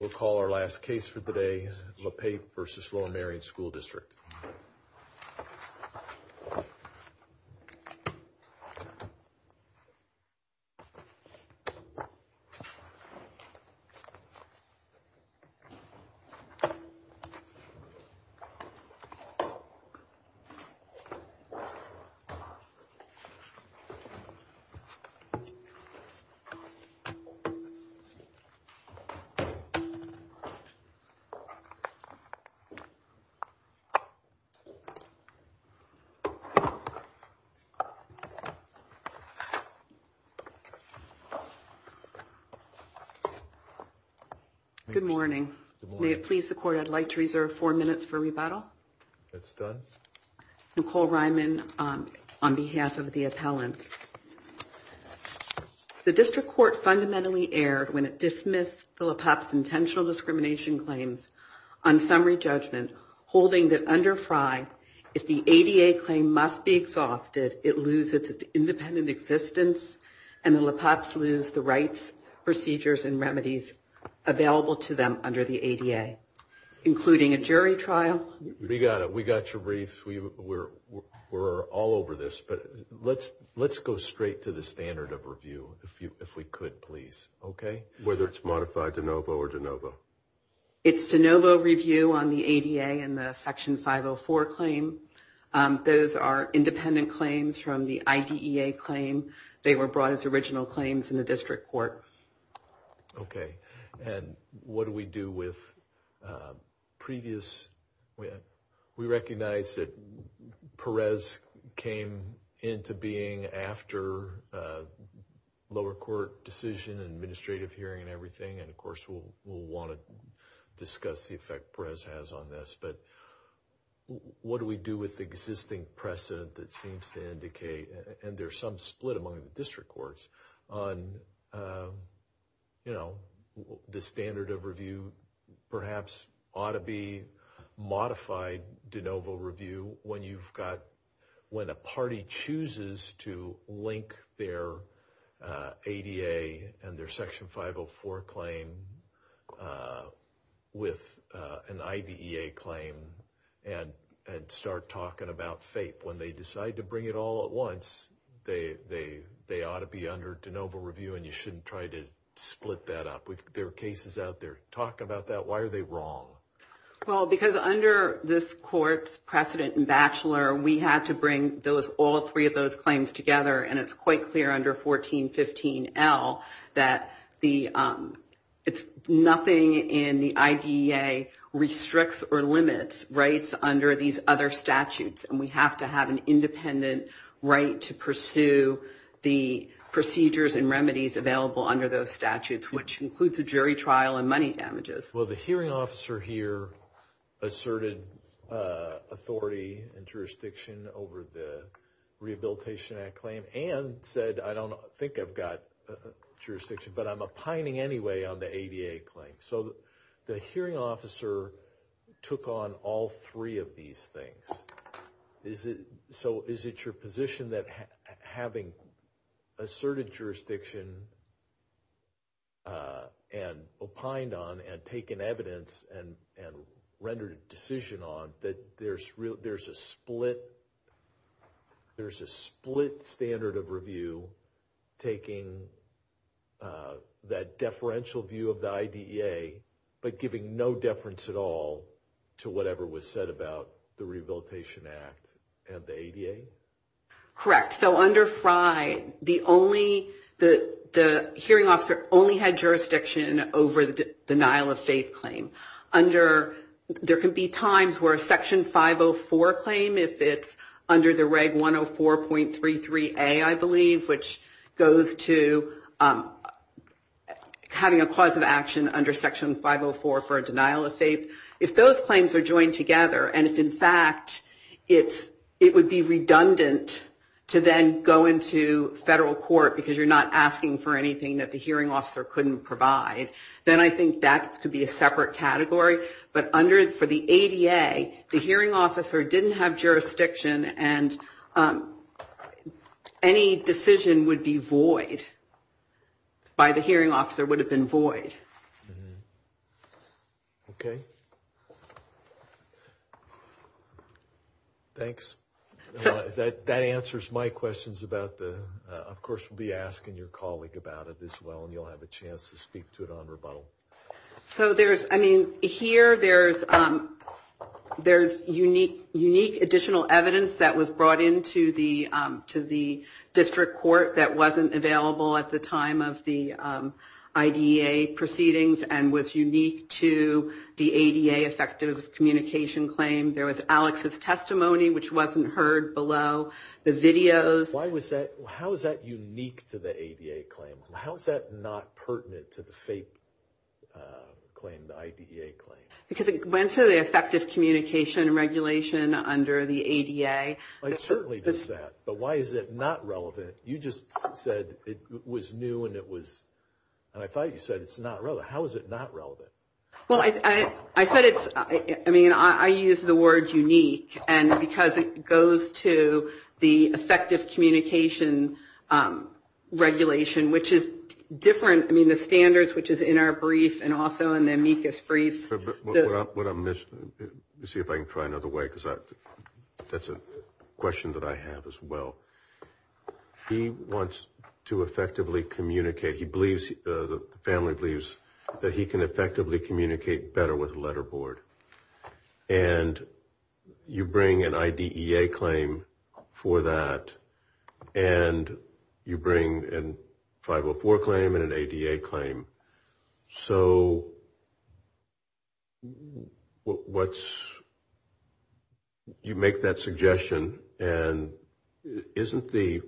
We'll call our last case for the day, Le Pape v. Lower Merion School District. Good morning. May it please the Court, I'd like to reserve four minutes for rebuttal. It's done. Nicole Ryman on behalf of the appellants. The District Court fundamentally erred when it dismissed the Le Pape's intentional discrimination claims on summary judgment, holding that under FRI, if the ADA claim must be exhausted, it loses its independent existence, and the Le Pape's lose the rights, procedures, and remedies available to them under the ADA, including a jury trial. We got it. We got your brief. We're all over this. But let's go straight to the standard of review, if we could, please. Okay. Whether it's modified de novo or de novo. It's de novo review on the ADA and the Section 504 claim. Those are independent claims from the IDEA claim. They were brought as original claims in the District Court. Okay. And what do we do with previous? We recognize that Perez came into being after lower court decision and administrative hearing and everything. And, of course, we'll want to discuss the effect Perez has on this. But what do we do with existing precedent that seems to indicate, and there's some split among the District Courts on, you know, the standard of review, perhaps ought to be modified de novo review when you've got, when a party chooses to link their ADA and their Section 504 claim with an IDEA claim and start talking about FAPE. When they decide to bring it all at once, they ought to be under de novo review and you shouldn't try to split that up. There are cases out there. Talk about that. Why are they wrong? Well, because under this court's precedent in Batchelor, we had to bring all three of those claims together. And it's quite clear under 1415L that nothing in the IDEA restricts or limits rights under these other statutes. And we have to have an independent right to pursue the procedures and remedies available under those statutes, which includes a jury trial and money damages. Well, the hearing officer here asserted authority and jurisdiction over the Rehabilitation Act claim and said, I don't think I've got jurisdiction, but I'm opining anyway on the ADA claim. So the hearing officer took on all three of these things. So is it your position that having asserted jurisdiction and opined on and taken evidence and rendered a decision on, that there's a split standard of review taking that deferential view of the IDEA but giving no deference at all to whatever was said about the Rehabilitation Act and the ADA? Correct. So under Frye, the hearing officer only had jurisdiction over the denial of faith claim. There can be times where a Section 504 claim, if it's under the Reg. 104.33A, I believe, which goes to having a cause of action under Section 504 for a denial of faith, if those claims are joined together and if, in fact, it would be redundant to then go into federal court because you're not asking for anything that the hearing officer couldn't provide, then I think that could be a separate category. But for the ADA, the hearing officer didn't have jurisdiction and any decision would be void. By the hearing officer, it would have been void. Okay. Thanks. That answers my questions about the... Of course, we'll be asking your colleague about it as well, and you'll have a chance to speak to it on rebuttal. So there's, I mean, here there's unique additional evidence that was brought into the district court that wasn't available at the time of the IDA proceedings and was unique to the ADA effective communication claim. There was Alex's testimony, which wasn't heard below the videos. Why was that, how is that unique to the ADA claim? How is that not pertinent to the faith claim, the IDA claim? Because it went to the effective communication and regulation under the ADA. It certainly does that, but why is it not relevant? You just said it was new and it was, and I thought you said it's not relevant. How is it not relevant? Well, I said it's, I mean, I use the word unique, and because it goes to the effective communication regulation, which is different, I mean, the standards, which is in our brief and also in the amicus briefs. Let me see if I can try another way, because that's a question that I have as well. He wants to effectively communicate. He believes, the family believes that he can effectively communicate better with a letter board, and you bring an IDEA claim for that, and you bring a 504 claim and an ADA claim. So what's, you make that suggestion, and isn't the,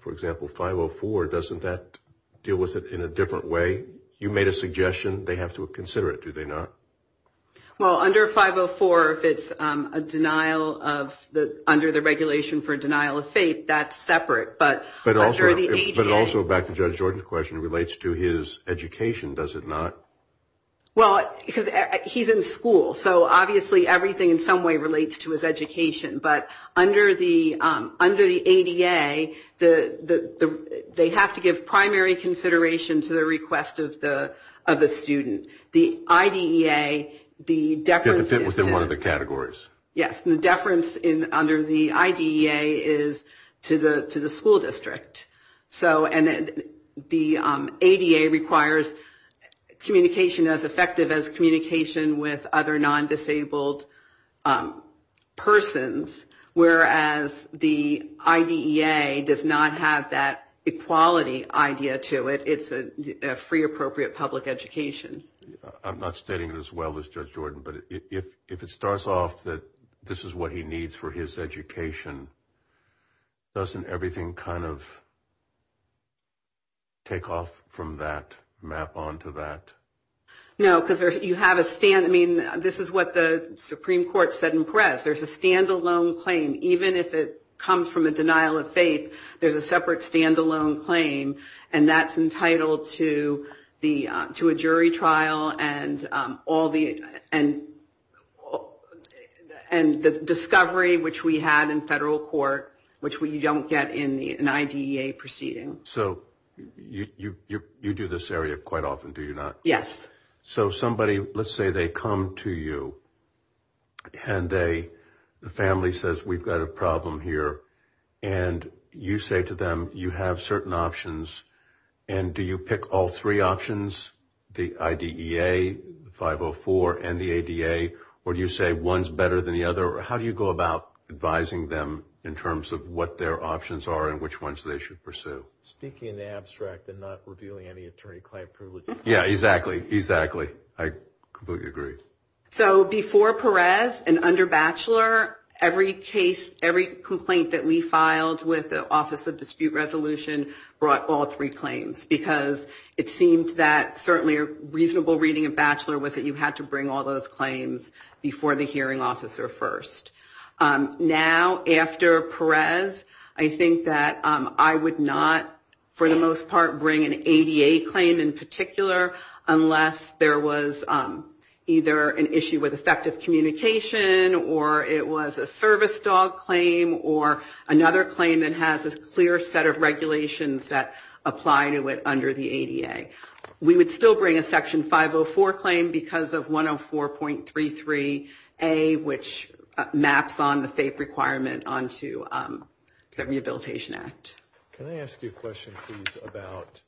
for example, 504, doesn't that deal with it in a different way? You made a suggestion, they have to consider it, do they not? Well, under 504, if it's a denial of, under the regulation for denial of faith, that's separate, but under the ADA. But it also, back to Judge Jordan's question, relates to his education, does it not? Well, because he's in school, so obviously everything in some way relates to his education, but under the ADA, they have to give primary consideration to the request of the student. The IDEA, the deference is to. Within one of the categories. Yes, the deference under the IDEA is to the school district. So, and the ADA requires communication as effective as communication with other non-disabled persons, whereas the IDEA does not have that equality idea to it. It's a free appropriate public education. I'm not stating it as well as Judge Jordan, but if it starts off that this is what he needs for his education, doesn't everything kind of take off from that, map onto that? No, because you have a stand, I mean, this is what the Supreme Court said in press, there's a stand-alone claim, even if it comes from a denial of faith, there's a separate stand-alone claim, and that's entitled to a jury trial and the discovery, which we had in federal court, which we don't get in an IDEA proceeding. So, you do this area quite often, do you not? Yes. So, somebody, let's say they come to you, and the family says, we've got a problem here, and you say to them, you have certain options, and do you pick all three options, the IDEA, 504, and the ADA, or do you say one's better than the other, or how do you go about advising them in terms of what their options are and which ones they should pursue? Speaking in the abstract and not revealing any attorney-client privileges. Yeah, exactly, exactly. I completely agree. So, before Perez and under Batchelor, every case, every complaint that we filed with the Office of Dispute Resolution brought all three claims, because it seemed that certainly a reasonable reading of Batchelor was that you had to bring all those claims before the hearing officer first. Now, after Perez, I think that I would not, for the most part, bring an ADA claim in particular, unless there was either an issue with effective communication, or it was a service dog claim, or another claim that has a clear set of regulations that apply to it under the ADA. We would still bring a Section 504 claim because of 104.33A, which maps on the FAPE requirement onto the Rehabilitation Act. Can I ask you a question, please, about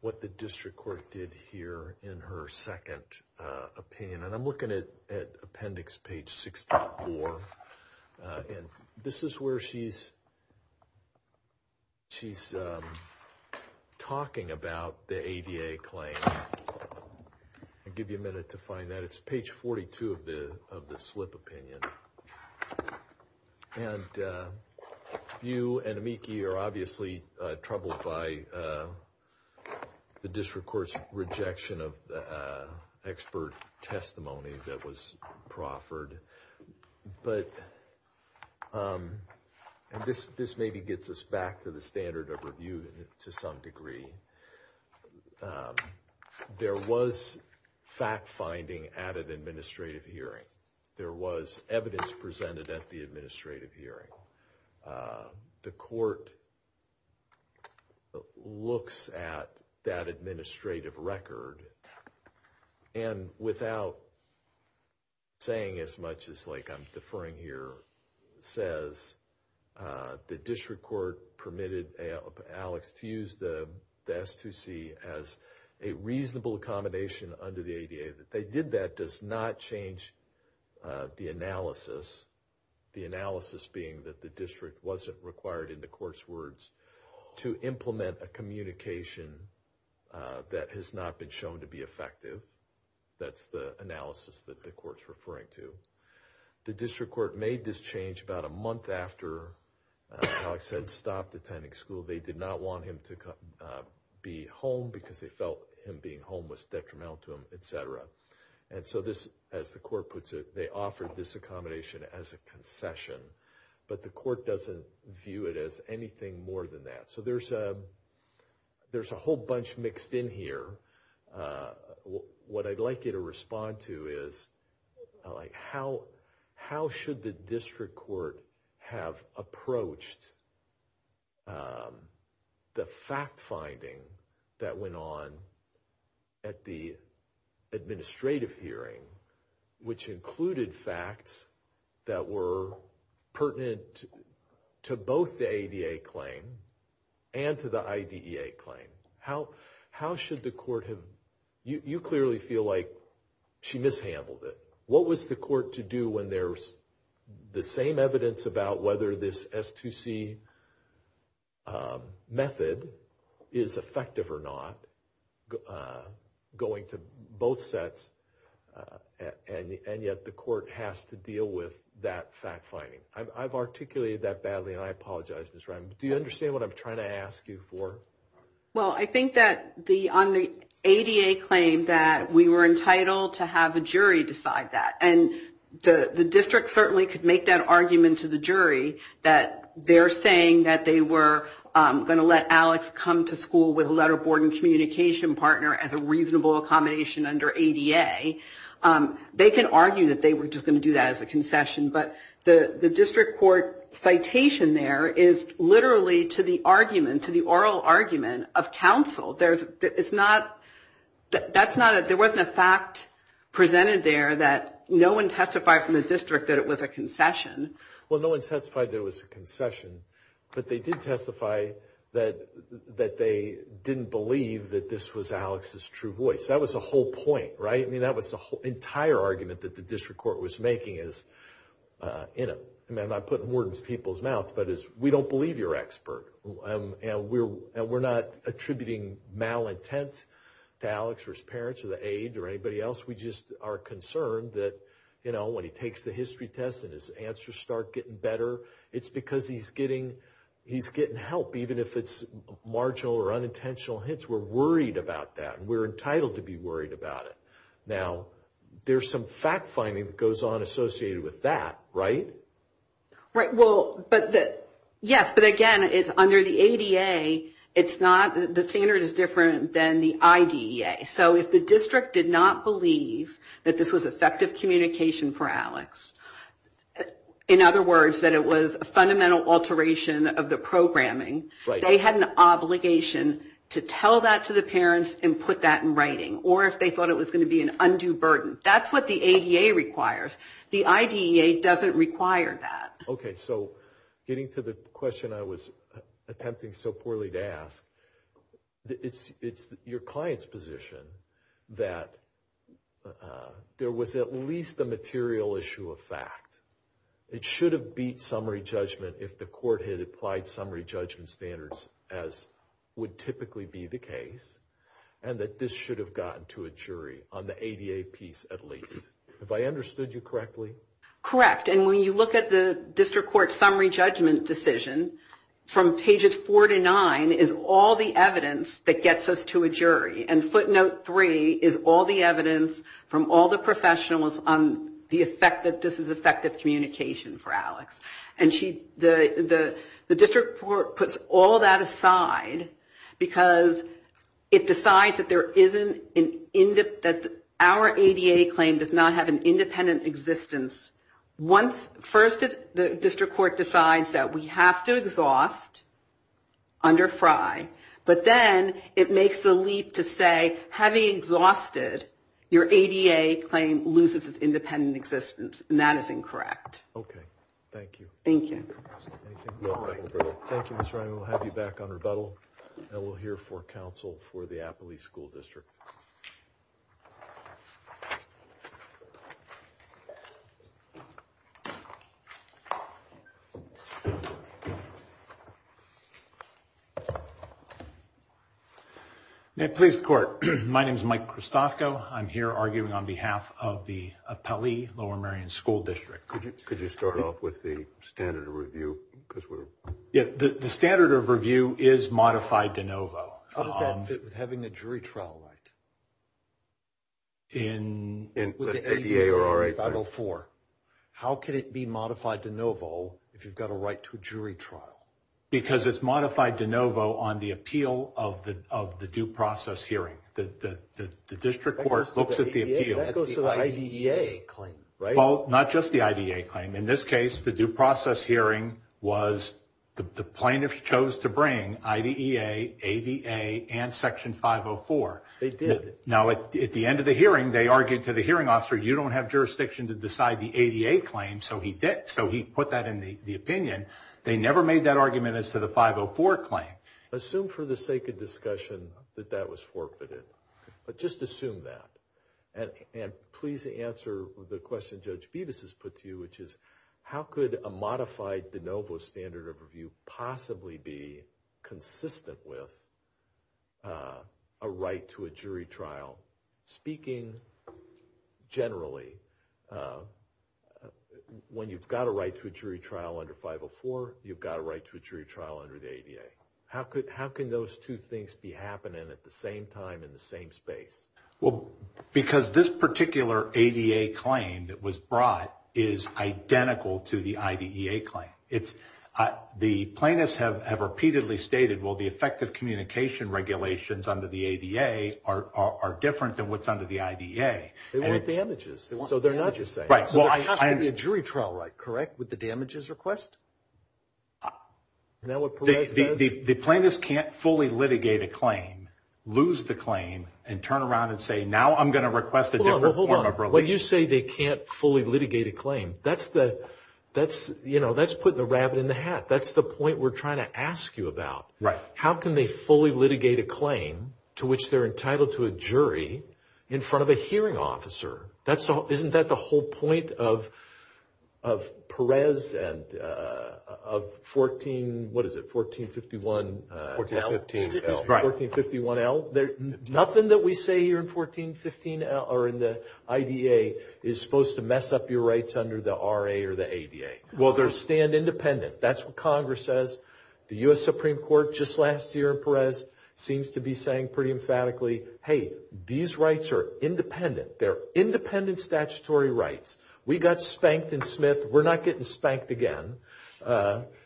what the district court did here in her second opinion? And I'm looking at Appendix page 64, and this is where she's talking about the ADA claim. I'll give you a minute to find that. It's page 42 of the slip opinion. And you and Amiki are obviously troubled by the district court's rejection of expert testimony that was proffered. But this maybe gets us back to the standard of review to some degree. There was fact-finding at an administrative hearing. There was evidence presented at the administrative hearing. The court looks at that administrative record, and without saying as much as, like I'm deferring here, the district court permitted Alex to use the S2C as a reasonable accommodation under the ADA. That they did that does not change the analysis. The analysis being that the district wasn't required, in the court's words, to implement a communication that has not been shown to be effective. That's the analysis that the court's referring to. The district court made this change about a month after Alex had stopped attending school. They did not want him to be home because they felt him being home was detrimental to him, etc. And so this, as the court puts it, they offered this accommodation as a concession. But the court doesn't view it as anything more than that. So there's a whole bunch mixed in here. What I'd like you to respond to is how should the district court have approached the fact-finding that went on at the administrative hearing, which included facts that were pertinent to both the ADA claim and to the IDEA claim. How should the court have... You clearly feel like she mishandled it. What was the court to do when there's the same evidence about whether this S2C method is effective or not, going to both sets, and yet the court has to deal with that fact-finding? I've articulated that badly, and I apologize, Ms. Reim. Do you understand what I'm trying to ask you for? Well, I think that on the ADA claim that we were entitled to have a jury decide that. And the district certainly could make that argument to the jury that they're saying that they were going to let Alex come to school with a letter-boarding communication partner as a reasonable accommodation under ADA. They can argue that they were just going to do that as a concession. But the district court citation there is literally to the argument, to the oral argument of counsel. It's not... That's not a... There wasn't a fact presented there that no one testified from the district that it was a concession. Well, no one testified that it was a concession, but they did testify that they didn't believe that this was Alex's true voice. That was the whole point, right? I mean, that was the entire argument that the district court was making is, you know... I mean, I'm not putting words in people's mouths, but it's, we don't believe you're an expert. And we're not attributing malintent to Alex or his parents or the aide or anybody else. We just are concerned that, you know, when he takes the history test and his answers start getting better, it's because he's getting help, even if it's marginal or unintentional hints. We're worried about that, and we're entitled to be worried about it. Now, there's some fact-finding that goes on associated with that, right? Right. Well, but the... Yes, but again, it's under the ADA. It's not... The standard is different than the IDEA. So if the district did not believe that this was effective communication for Alex, in other words, that it was a fundamental alteration of the programming, they had an obligation to tell that to the parents and put that in writing, or if they thought it was going to be an undue burden. That's what the ADA requires. The IDEA doesn't require that. Okay, so getting to the question I was attempting so poorly to ask, it's your client's position that there was at least a material issue of fact. It should have beat summary judgment if the court had applied summary judgment standards as would typically be the case, and that this should have gotten to a jury on the ADA piece at least. Have I understood you correctly? Correct, and when you look at the district court summary judgment decision, from pages 4 to 9 is all the evidence that gets us to a jury, and footnote 3 is all the evidence from all the professionals on the effect that this is effective communication for Alex. And the district court puts all that aside because it decides that our ADA claim does not have an independent existence. First the district court decides that we have to exhaust under FRI, but then it makes the leap to say having exhausted your ADA claim loses its independent existence, and that is incorrect. Okay, thank you. Thank you. Thank you, Ms. Ryan. We'll have you back on rebuttal, and we'll hear from counsel for the Appley School District. May it please the court. My name is Mike Christofko. I'm here arguing on behalf of the Appley Lower Merion School District. The standard of review is modified de novo. How does that fit with having a jury trial right? With the ADA or RFI? How can it be modified de novo if you've got a right to a jury trial? Because it's modified de novo on the appeal of the due process hearing. The district court looks at the appeal. That goes to the IDEA claim, right? Well, not just the IDEA claim. In this case, the due process hearing was the plaintiff chose to bring IDEA, ADA, and Section 504. They did. Now, at the end of the hearing, they argued to the hearing officer, you don't have jurisdiction to decide the ADA claim, so he did. So he put that in the opinion. They never made that argument as to the 504 claim. Assume for the sake of discussion that that was forfeited, but just assume that. Please answer the question Judge Bevis has put to you, which is how could a modified de novo standard of review possibly be consistent with a right to a jury trial? Speaking generally, when you've got a right to a jury trial under 504, you've got a right to a jury trial under the ADA. How can those two things be happening at the same time in the same space? Because this particular ADA claim that was brought is identical to the IDEA claim. The plaintiffs have repeatedly stated, well, the effective communication regulations under the ADA are different than what's under the IDEA. They want damages, so they're not the same. There has to be a jury trial right, correct, with the damages request? The plaintiffs can't fully litigate a claim, lose the claim, and turn around and say, now I'm going to request a different form of relief. Hold on. When you say they can't fully litigate a claim, that's putting a rabbit in the hat. That's the point we're trying to ask you about. Right. How can they fully litigate a claim to which they're entitled to a jury in front of a hearing officer? Isn't that the whole point of Perez and of 14, what is it, 1451 L? 1415 L. 1451 L. Nothing that we say here in the IDEA is supposed to mess up your rights under the RA or the ADA. Well, they stand independent. That's what Congress says. The U.S. Supreme Court just last year in Perez seems to be saying pretty emphatically, hey, these rights are independent. They're independent statutory rights. We got spanked in Smith. We're not getting spanked again.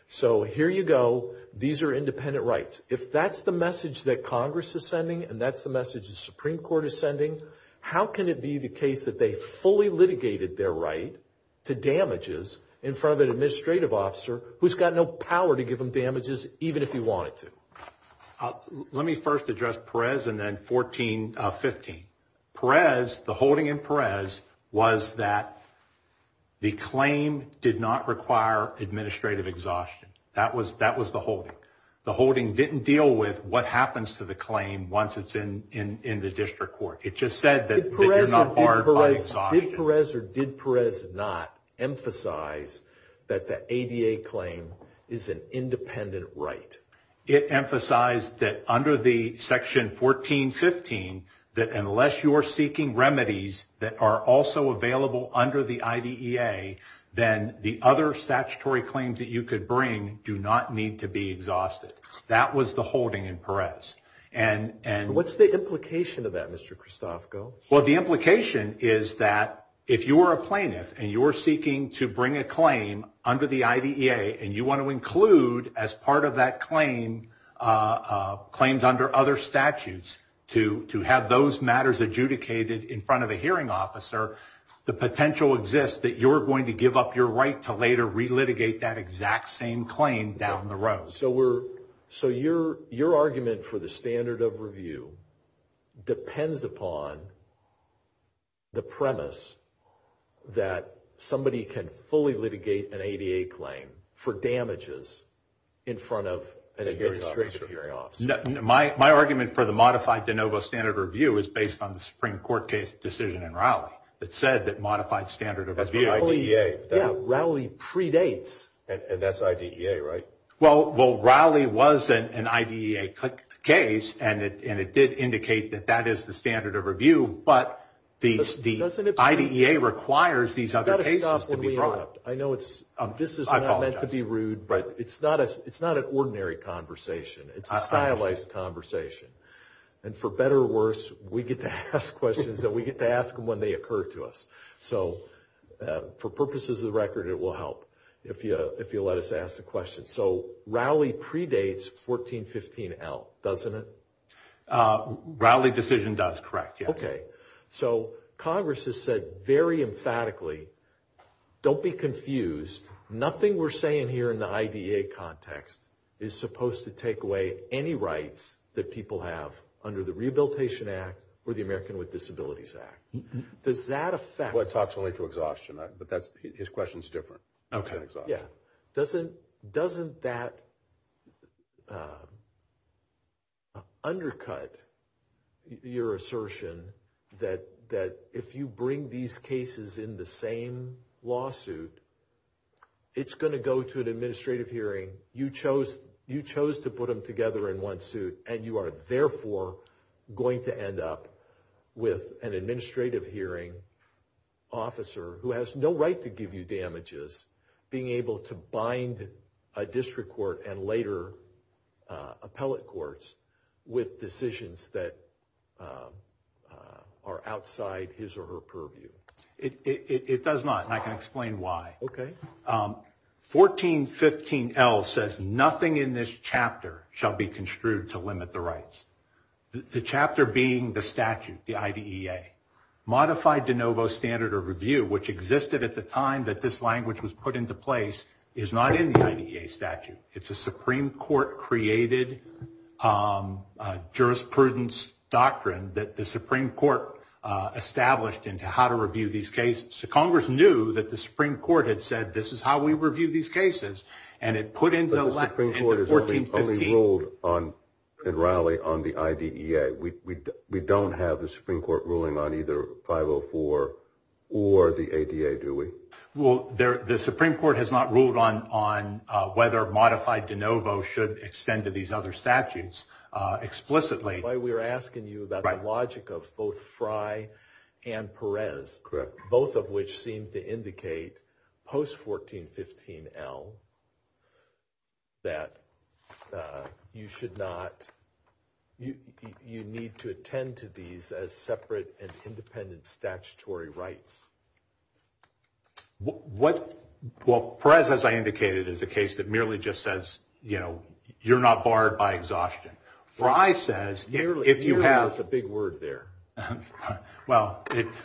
So here you go. These are independent rights. If that's the message that Congress is sending and that's the message the Supreme Court is sending, how can it be the case that they fully litigated their right to damages in front of an administrative officer who's got no power to give them damages even if he wanted to? Let me first address Perez and then 1415. Perez, the holding in Perez, was that the claim did not require administrative exhaustion. That was the holding. The holding didn't deal with what happens to the claim once it's in the district court. It just said that you're not barred by exhaustion. Did Perez or did Perez not emphasize that the ADA claim is an independent right? It emphasized that under the Section 1415 that unless you're seeking remedies that are also available under the IDEA, then the other statutory claims that you could bring do not need to be exhausted. That was the holding in Perez. What's the implication of that, Mr. Christofko? Well, the implication is that if you were a plaintiff and you were seeking to bring a claim under the IDEA and you want to include as part of that claim claims under other statutes to have those matters adjudicated in front of a hearing officer, the potential exists that you're going to give up your right to later relitigate that exact same claim down the road. So your argument for the standard of review depends upon the premise that somebody can fully litigate an ADA claim for damages in front of an administrative hearing officer. My argument for the modified de novo standard of review is based on the Supreme Court case decision in Rowley that said that modified standard of review. That's what IDEA. Yeah, Rowley predates. And that's IDEA, right? Well, Rowley was an IDEA case, and it did indicate that that is the standard of review, but the IDEA requires these other cases to be brought. I know this is not meant to be rude, but it's not an ordinary conversation. It's a stylized conversation. And for better or worse, we get to ask questions, and we get to ask them when they occur to us. So for purposes of the record, it will help if you let us ask the question. So Rowley predates 1415L, doesn't it? Rowley decision does, correct, yes. Okay. So Congress has said very emphatically, don't be confused. Nothing we're saying here in the IDEA context is supposed to take away any rights that people have under the Rehabilitation Act or the American with Disabilities Act. Does that affect? Well, it talks only to exhaustion, but his question is different. Okay, yeah. Doesn't that undercut your assertion that if you bring these cases in the same lawsuit, it's going to go to an administrative hearing, you chose to put them together in one suit, and you are therefore going to end up with an administrative hearing officer who has no right to give you damages being able to bind a district court and later appellate courts with decisions that are outside his or her purview? It does not, and I can explain why. Okay. 1415L says nothing in this chapter shall be construed to limit the rights. The chapter being the statute, the IDEA. Modified de novo standard of review, which existed at the time that this language was put into place, is not in the IDEA statute. It's a Supreme Court-created jurisprudence doctrine that the Supreme Court established into how to review these cases. So Congress knew that the Supreme Court had said this is how we review these cases, and it put into 1415. But the Supreme Court has only ruled in Raleigh on the IDEA. We don't have the Supreme Court ruling on either 504 or the ADA, do we? Well, the Supreme Court has not ruled on whether modified de novo should extend to these other statutes explicitly. That's why we were asking you about the logic of both Frey and Perez. Correct. Both of which seem to indicate post-1415L that you need to attend to these as separate and independent statutory rights. Well, Perez, as I indicated, is a case that merely just says, you know, you're not barred by exhaustion. Frey says, if you have... Merely is a big word there. Well,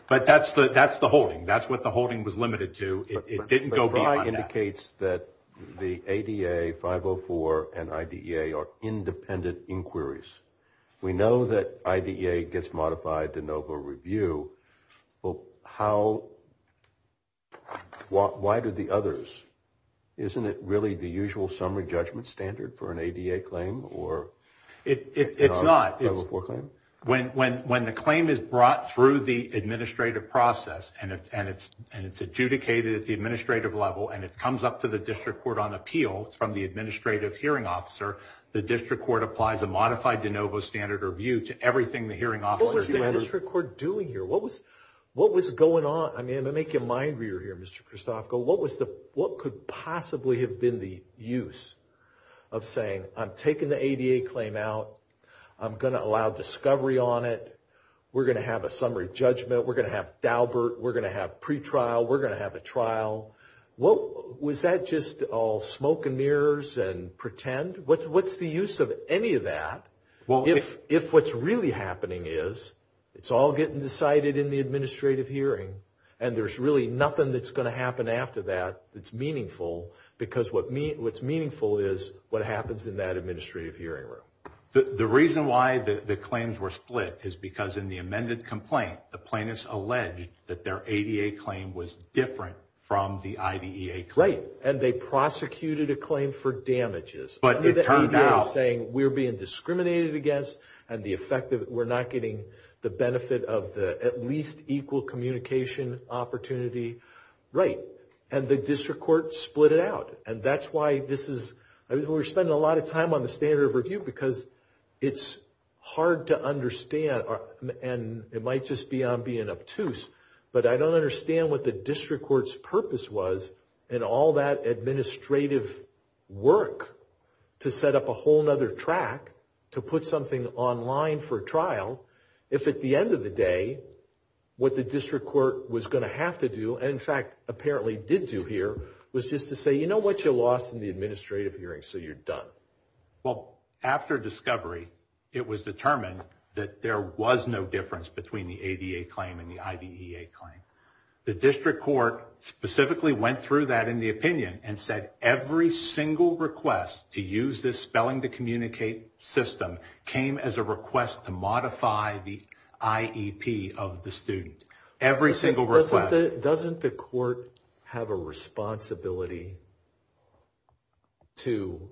but that's the holding. That's what the holding was limited to. It didn't go beyond that. But Frey indicates that the ADA, 504, and IDEA are independent inquiries. We know that IDEA gets modified de novo review. Well, how... Why do the others? Isn't it really the usual summary judgment standard for an ADA claim? It's not. When the claim is brought through the administrative process and it's adjudicated at the administrative level and it comes up to the district court on appeal from the administrative hearing officer, the district court applies a modified de novo standard review to everything the hearing officer... What was the district court doing here? What was going on? I'm going to make you mind reader here, Mr. Christofko. What could possibly have been the use of saying, I'm taking the ADA claim out. I'm going to allow discovery on it. We're going to have a summary judgment. We're going to have Daubert. We're going to have pretrial. We're going to have a trial. Was that just all smoke and mirrors and pretend? What's the use of any of that? If what's really happening is it's all getting decided in the administrative hearing and there's really nothing that's going to happen after that that's meaningful, because what's meaningful is what happens in that administrative hearing room. The reason why the claims were split is because in the amended complaint, the plaintiffs alleged that their ADA claim was different from the IDEA claim. Right, and they prosecuted a claim for damages. But it turned out. The ADA is saying we're being discriminated against and we're not getting the benefit of the at least equal communication opportunity. Right, and the district court split it out. And that's why we're spending a lot of time on the standard of review because it's hard to understand, and it might just be I'm being obtuse, but I don't understand what the district court's purpose was and all that administrative work to set up a whole other track to put something online for trial, if at the end of the day what the district court was going to have to do, and in fact apparently did do here, was just to say, you know what? You lost in the administrative hearing, so you're done. Well, after discovery, it was determined that there was no difference between the ADA claim and the IDEA claim. The district court specifically went through that in the opinion and said every single request to use this spelling to communicate system came as a request to modify the IEP of the student. Every single request. Doesn't the court have a responsibility to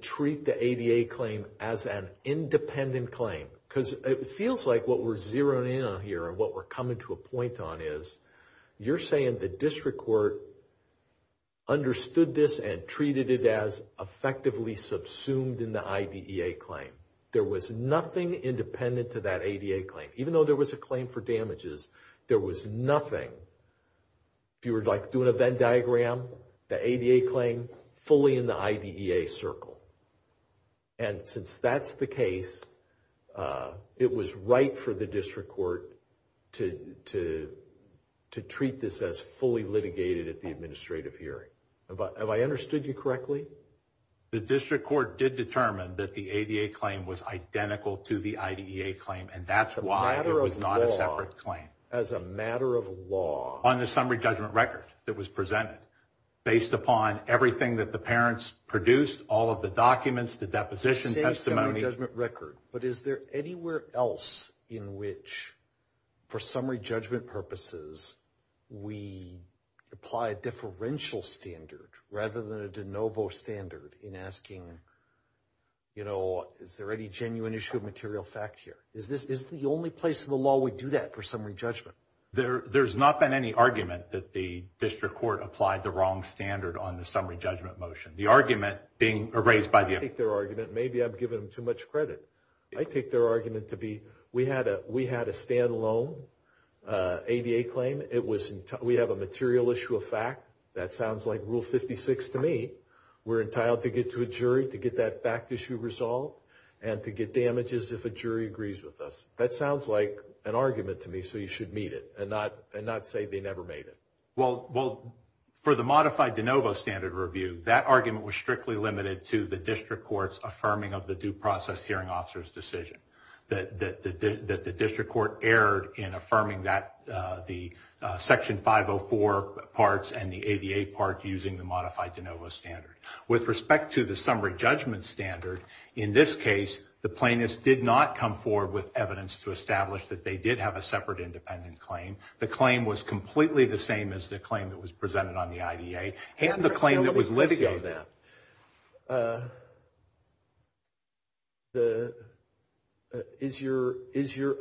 treat the ADA claim as an independent claim? Because it feels like what we're zeroing in on here and what we're coming to a point on is, you're saying the district court understood this and treated it as effectively subsumed in the IDEA claim. There was nothing independent to that ADA claim. Even though there was a claim for damages, there was nothing. If you were like doing a Venn diagram, the ADA claim, fully in the IDEA circle. And since that's the case, it was right for the district court to treat this as fully litigated at the administrative hearing. Have I understood you correctly? The district court did determine that the ADA claim was identical to the IDEA claim and that's why it was not a separate claim. As a matter of law. On the summary judgment record that was presented, based upon everything that the parents produced, all of the documents, the deposition testimony. You say summary judgment record, but is there anywhere else in which for summary judgment purposes, we apply a differential standard rather than a de novo standard in asking, you know, is there any genuine issue of material fact here? Is the only place in the law we do that for summary judgment? There's not been any argument that the district court applied the wrong standard on the summary judgment motion. The argument being raised by the… I take their argument, maybe I'm giving them too much credit. I take their argument to be, we had a standalone ADA claim. We have a material issue of fact. That sounds like Rule 56 to me. We're entitled to get to a jury to get that fact issue resolved and to get damages if a jury agrees with us. That sounds like an argument to me, so you should meet it and not say they never made it. Well, for the modified de novo standard review, that argument was strictly limited to the district court's affirming of the due process hearing officer's decision. That the district court erred in affirming the Section 504 parts and the ADA part using the modified de novo standard. With respect to the summary judgment standard, in this case, the plaintiffs did not come forward with evidence to establish that they did have a separate independent claim. The claim was completely the same as the claim that was presented on the IDA and the claim that was litigated. Is your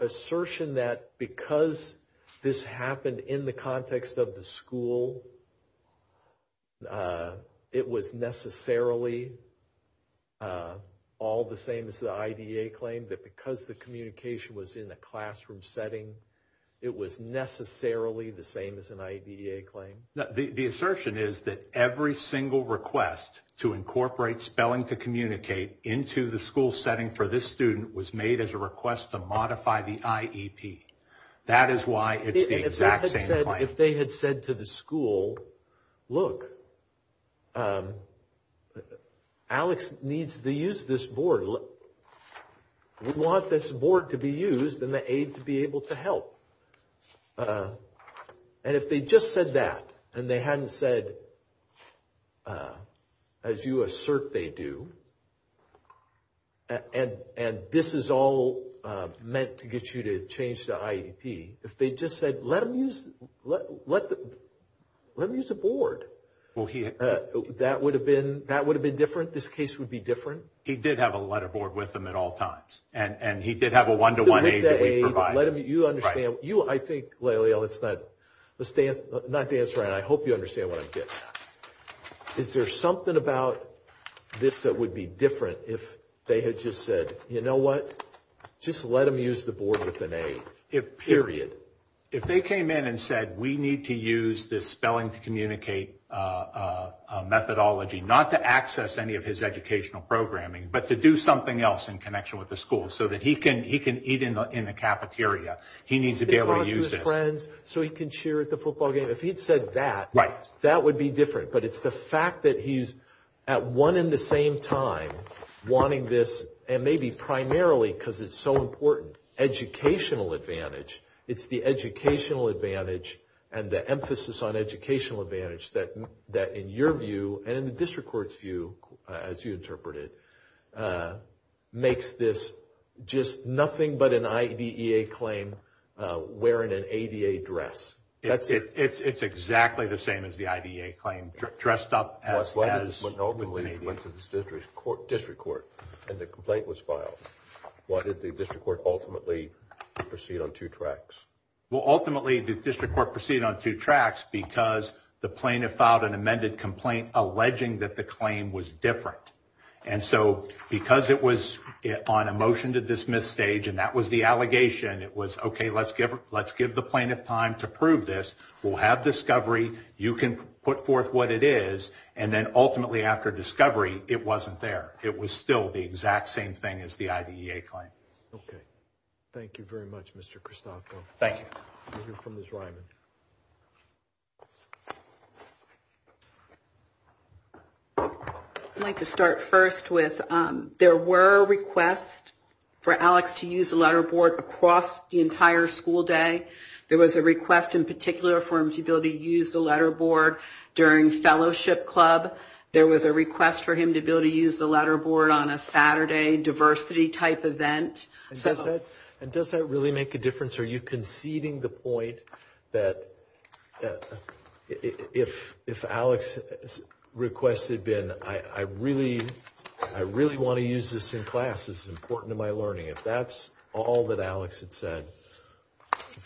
assertion that because this happened in the context of the school, it was necessarily all the same as the IDA claim? That because the communication was in a classroom setting, it was necessarily the same as an IDA claim? The assertion is that every single request to incorporate spelling to communicate into the school setting for this student was made as a request to modify the IEP. That is why it's the exact same claim. If they had said to the school, look, Alex needs to use this board. We want this board to be used and the aid to be able to help. And if they just said that and they hadn't said, as you assert they do, and this is all meant to get you to change the IEP, if they just said, let him use the board, that would have been different? This case would be different? He did have a letter board with him at all times. And he did have a one-to-one aid that we provided. You understand. I think, Lael, let's not dance around. I hope you understand what I'm getting at. Is there something about this that would be different if they had just said, you know what, just let him use the board with an aid, period? If they came in and said, we need to use this spelling to communicate methodology, not to access any of his educational programming, but to do something else in connection with the school so that he can eat in the cafeteria, he needs to be able to use this. Talk to his friends so he can cheer at the football game. If he had said that, that would be different. But it's the fact that he's at one and the same time wanting this, and maybe primarily because it's so important, educational advantage. It's the educational advantage and the emphasis on educational advantage that, in your view, and in the district court's view, as you interpret it, makes this just nothing but an IDEA claim wearing an ADA dress. It's exactly the same as the IDEA claim, dressed up as an ADA. What happened to the district court when the complaint was filed? Why did the district court ultimately proceed on two tracks? Well, ultimately, the district court proceeded on two tracks because the plaintiff filed an amended complaint alleging that the claim was different. And so because it was on a motion-to-dismiss stage and that was the allegation, it was, okay, let's give the plaintiff time to prove this. We'll have discovery. You can put forth what it is. And then ultimately, after discovery, it wasn't there. It was still the exact same thing as the IDEA claim. Okay. Thank you very much, Mr. Christofo. Thank you. We'll hear from Ms. Ryman. I'd like to start first with there were requests for Alex to use the letter board across the entire school day. There was a request in particular for him to be able to use the letter board during fellowship club. There was a request for him to be able to use the letter board on a Saturday diversity-type event. And does that really make a difference? Are you conceding the point that if Alex's request had been, I really want to use this in class, this is important to my learning, if that's all that Alex had said,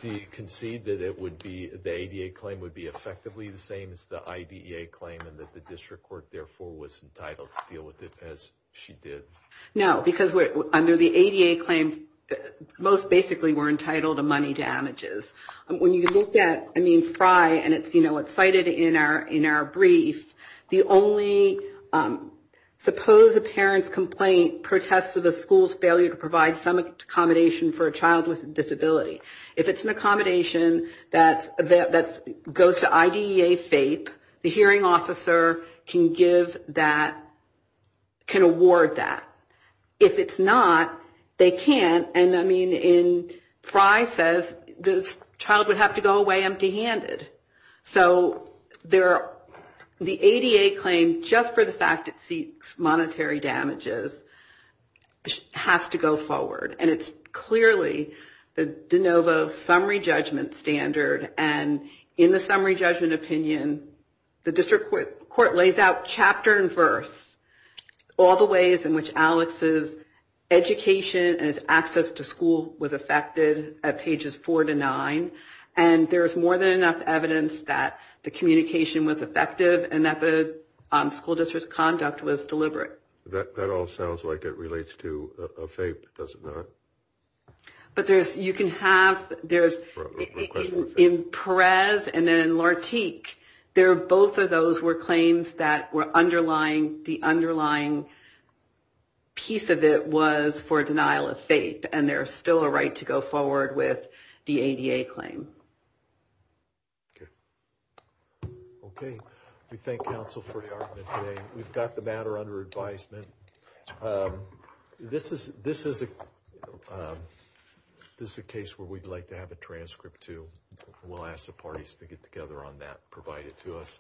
do you concede that the ADA claim would be effectively the same as the IDEA claim and that the district court, therefore, was entitled to deal with it as she did? No, because under the ADA claim, most basically we're entitled to money damages. When you look at, I mean, Frye, and it's cited in our brief, the only, suppose a parent's complaint protests of a school's failure to provide some accommodation for a child with a disability. If it's an accommodation that goes to IDEA FAPE, the hearing officer can award that. If it's not, they can't. And, I mean, Frye says this child would have to go away empty-handed. So the ADA claim, just for the fact it seeks monetary damages, has to go forward. And it's clearly the de novo summary judgment standard. And in the summary judgment opinion, the district court lays out chapter and verse, all the ways in which Alex's education and his access to school was affected at pages four to nine. And there is more than enough evidence that the communication was effective and that the school district's conduct was deliberate. That all sounds like it relates to a FAPE, does it not? But you can have, in Perez and then in Lartique, both of those were claims that were underlying, the underlying piece of it was for denial of FAPE. And there's still a right to go forward with the ADA claim. Okay. Okay. We thank counsel for the argument today. We've got the matter under advisement. This is a case where we'd like to have a transcript too. We'll ask the parties to get together on that and provide it to us.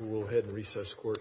We'll go ahead and recess court.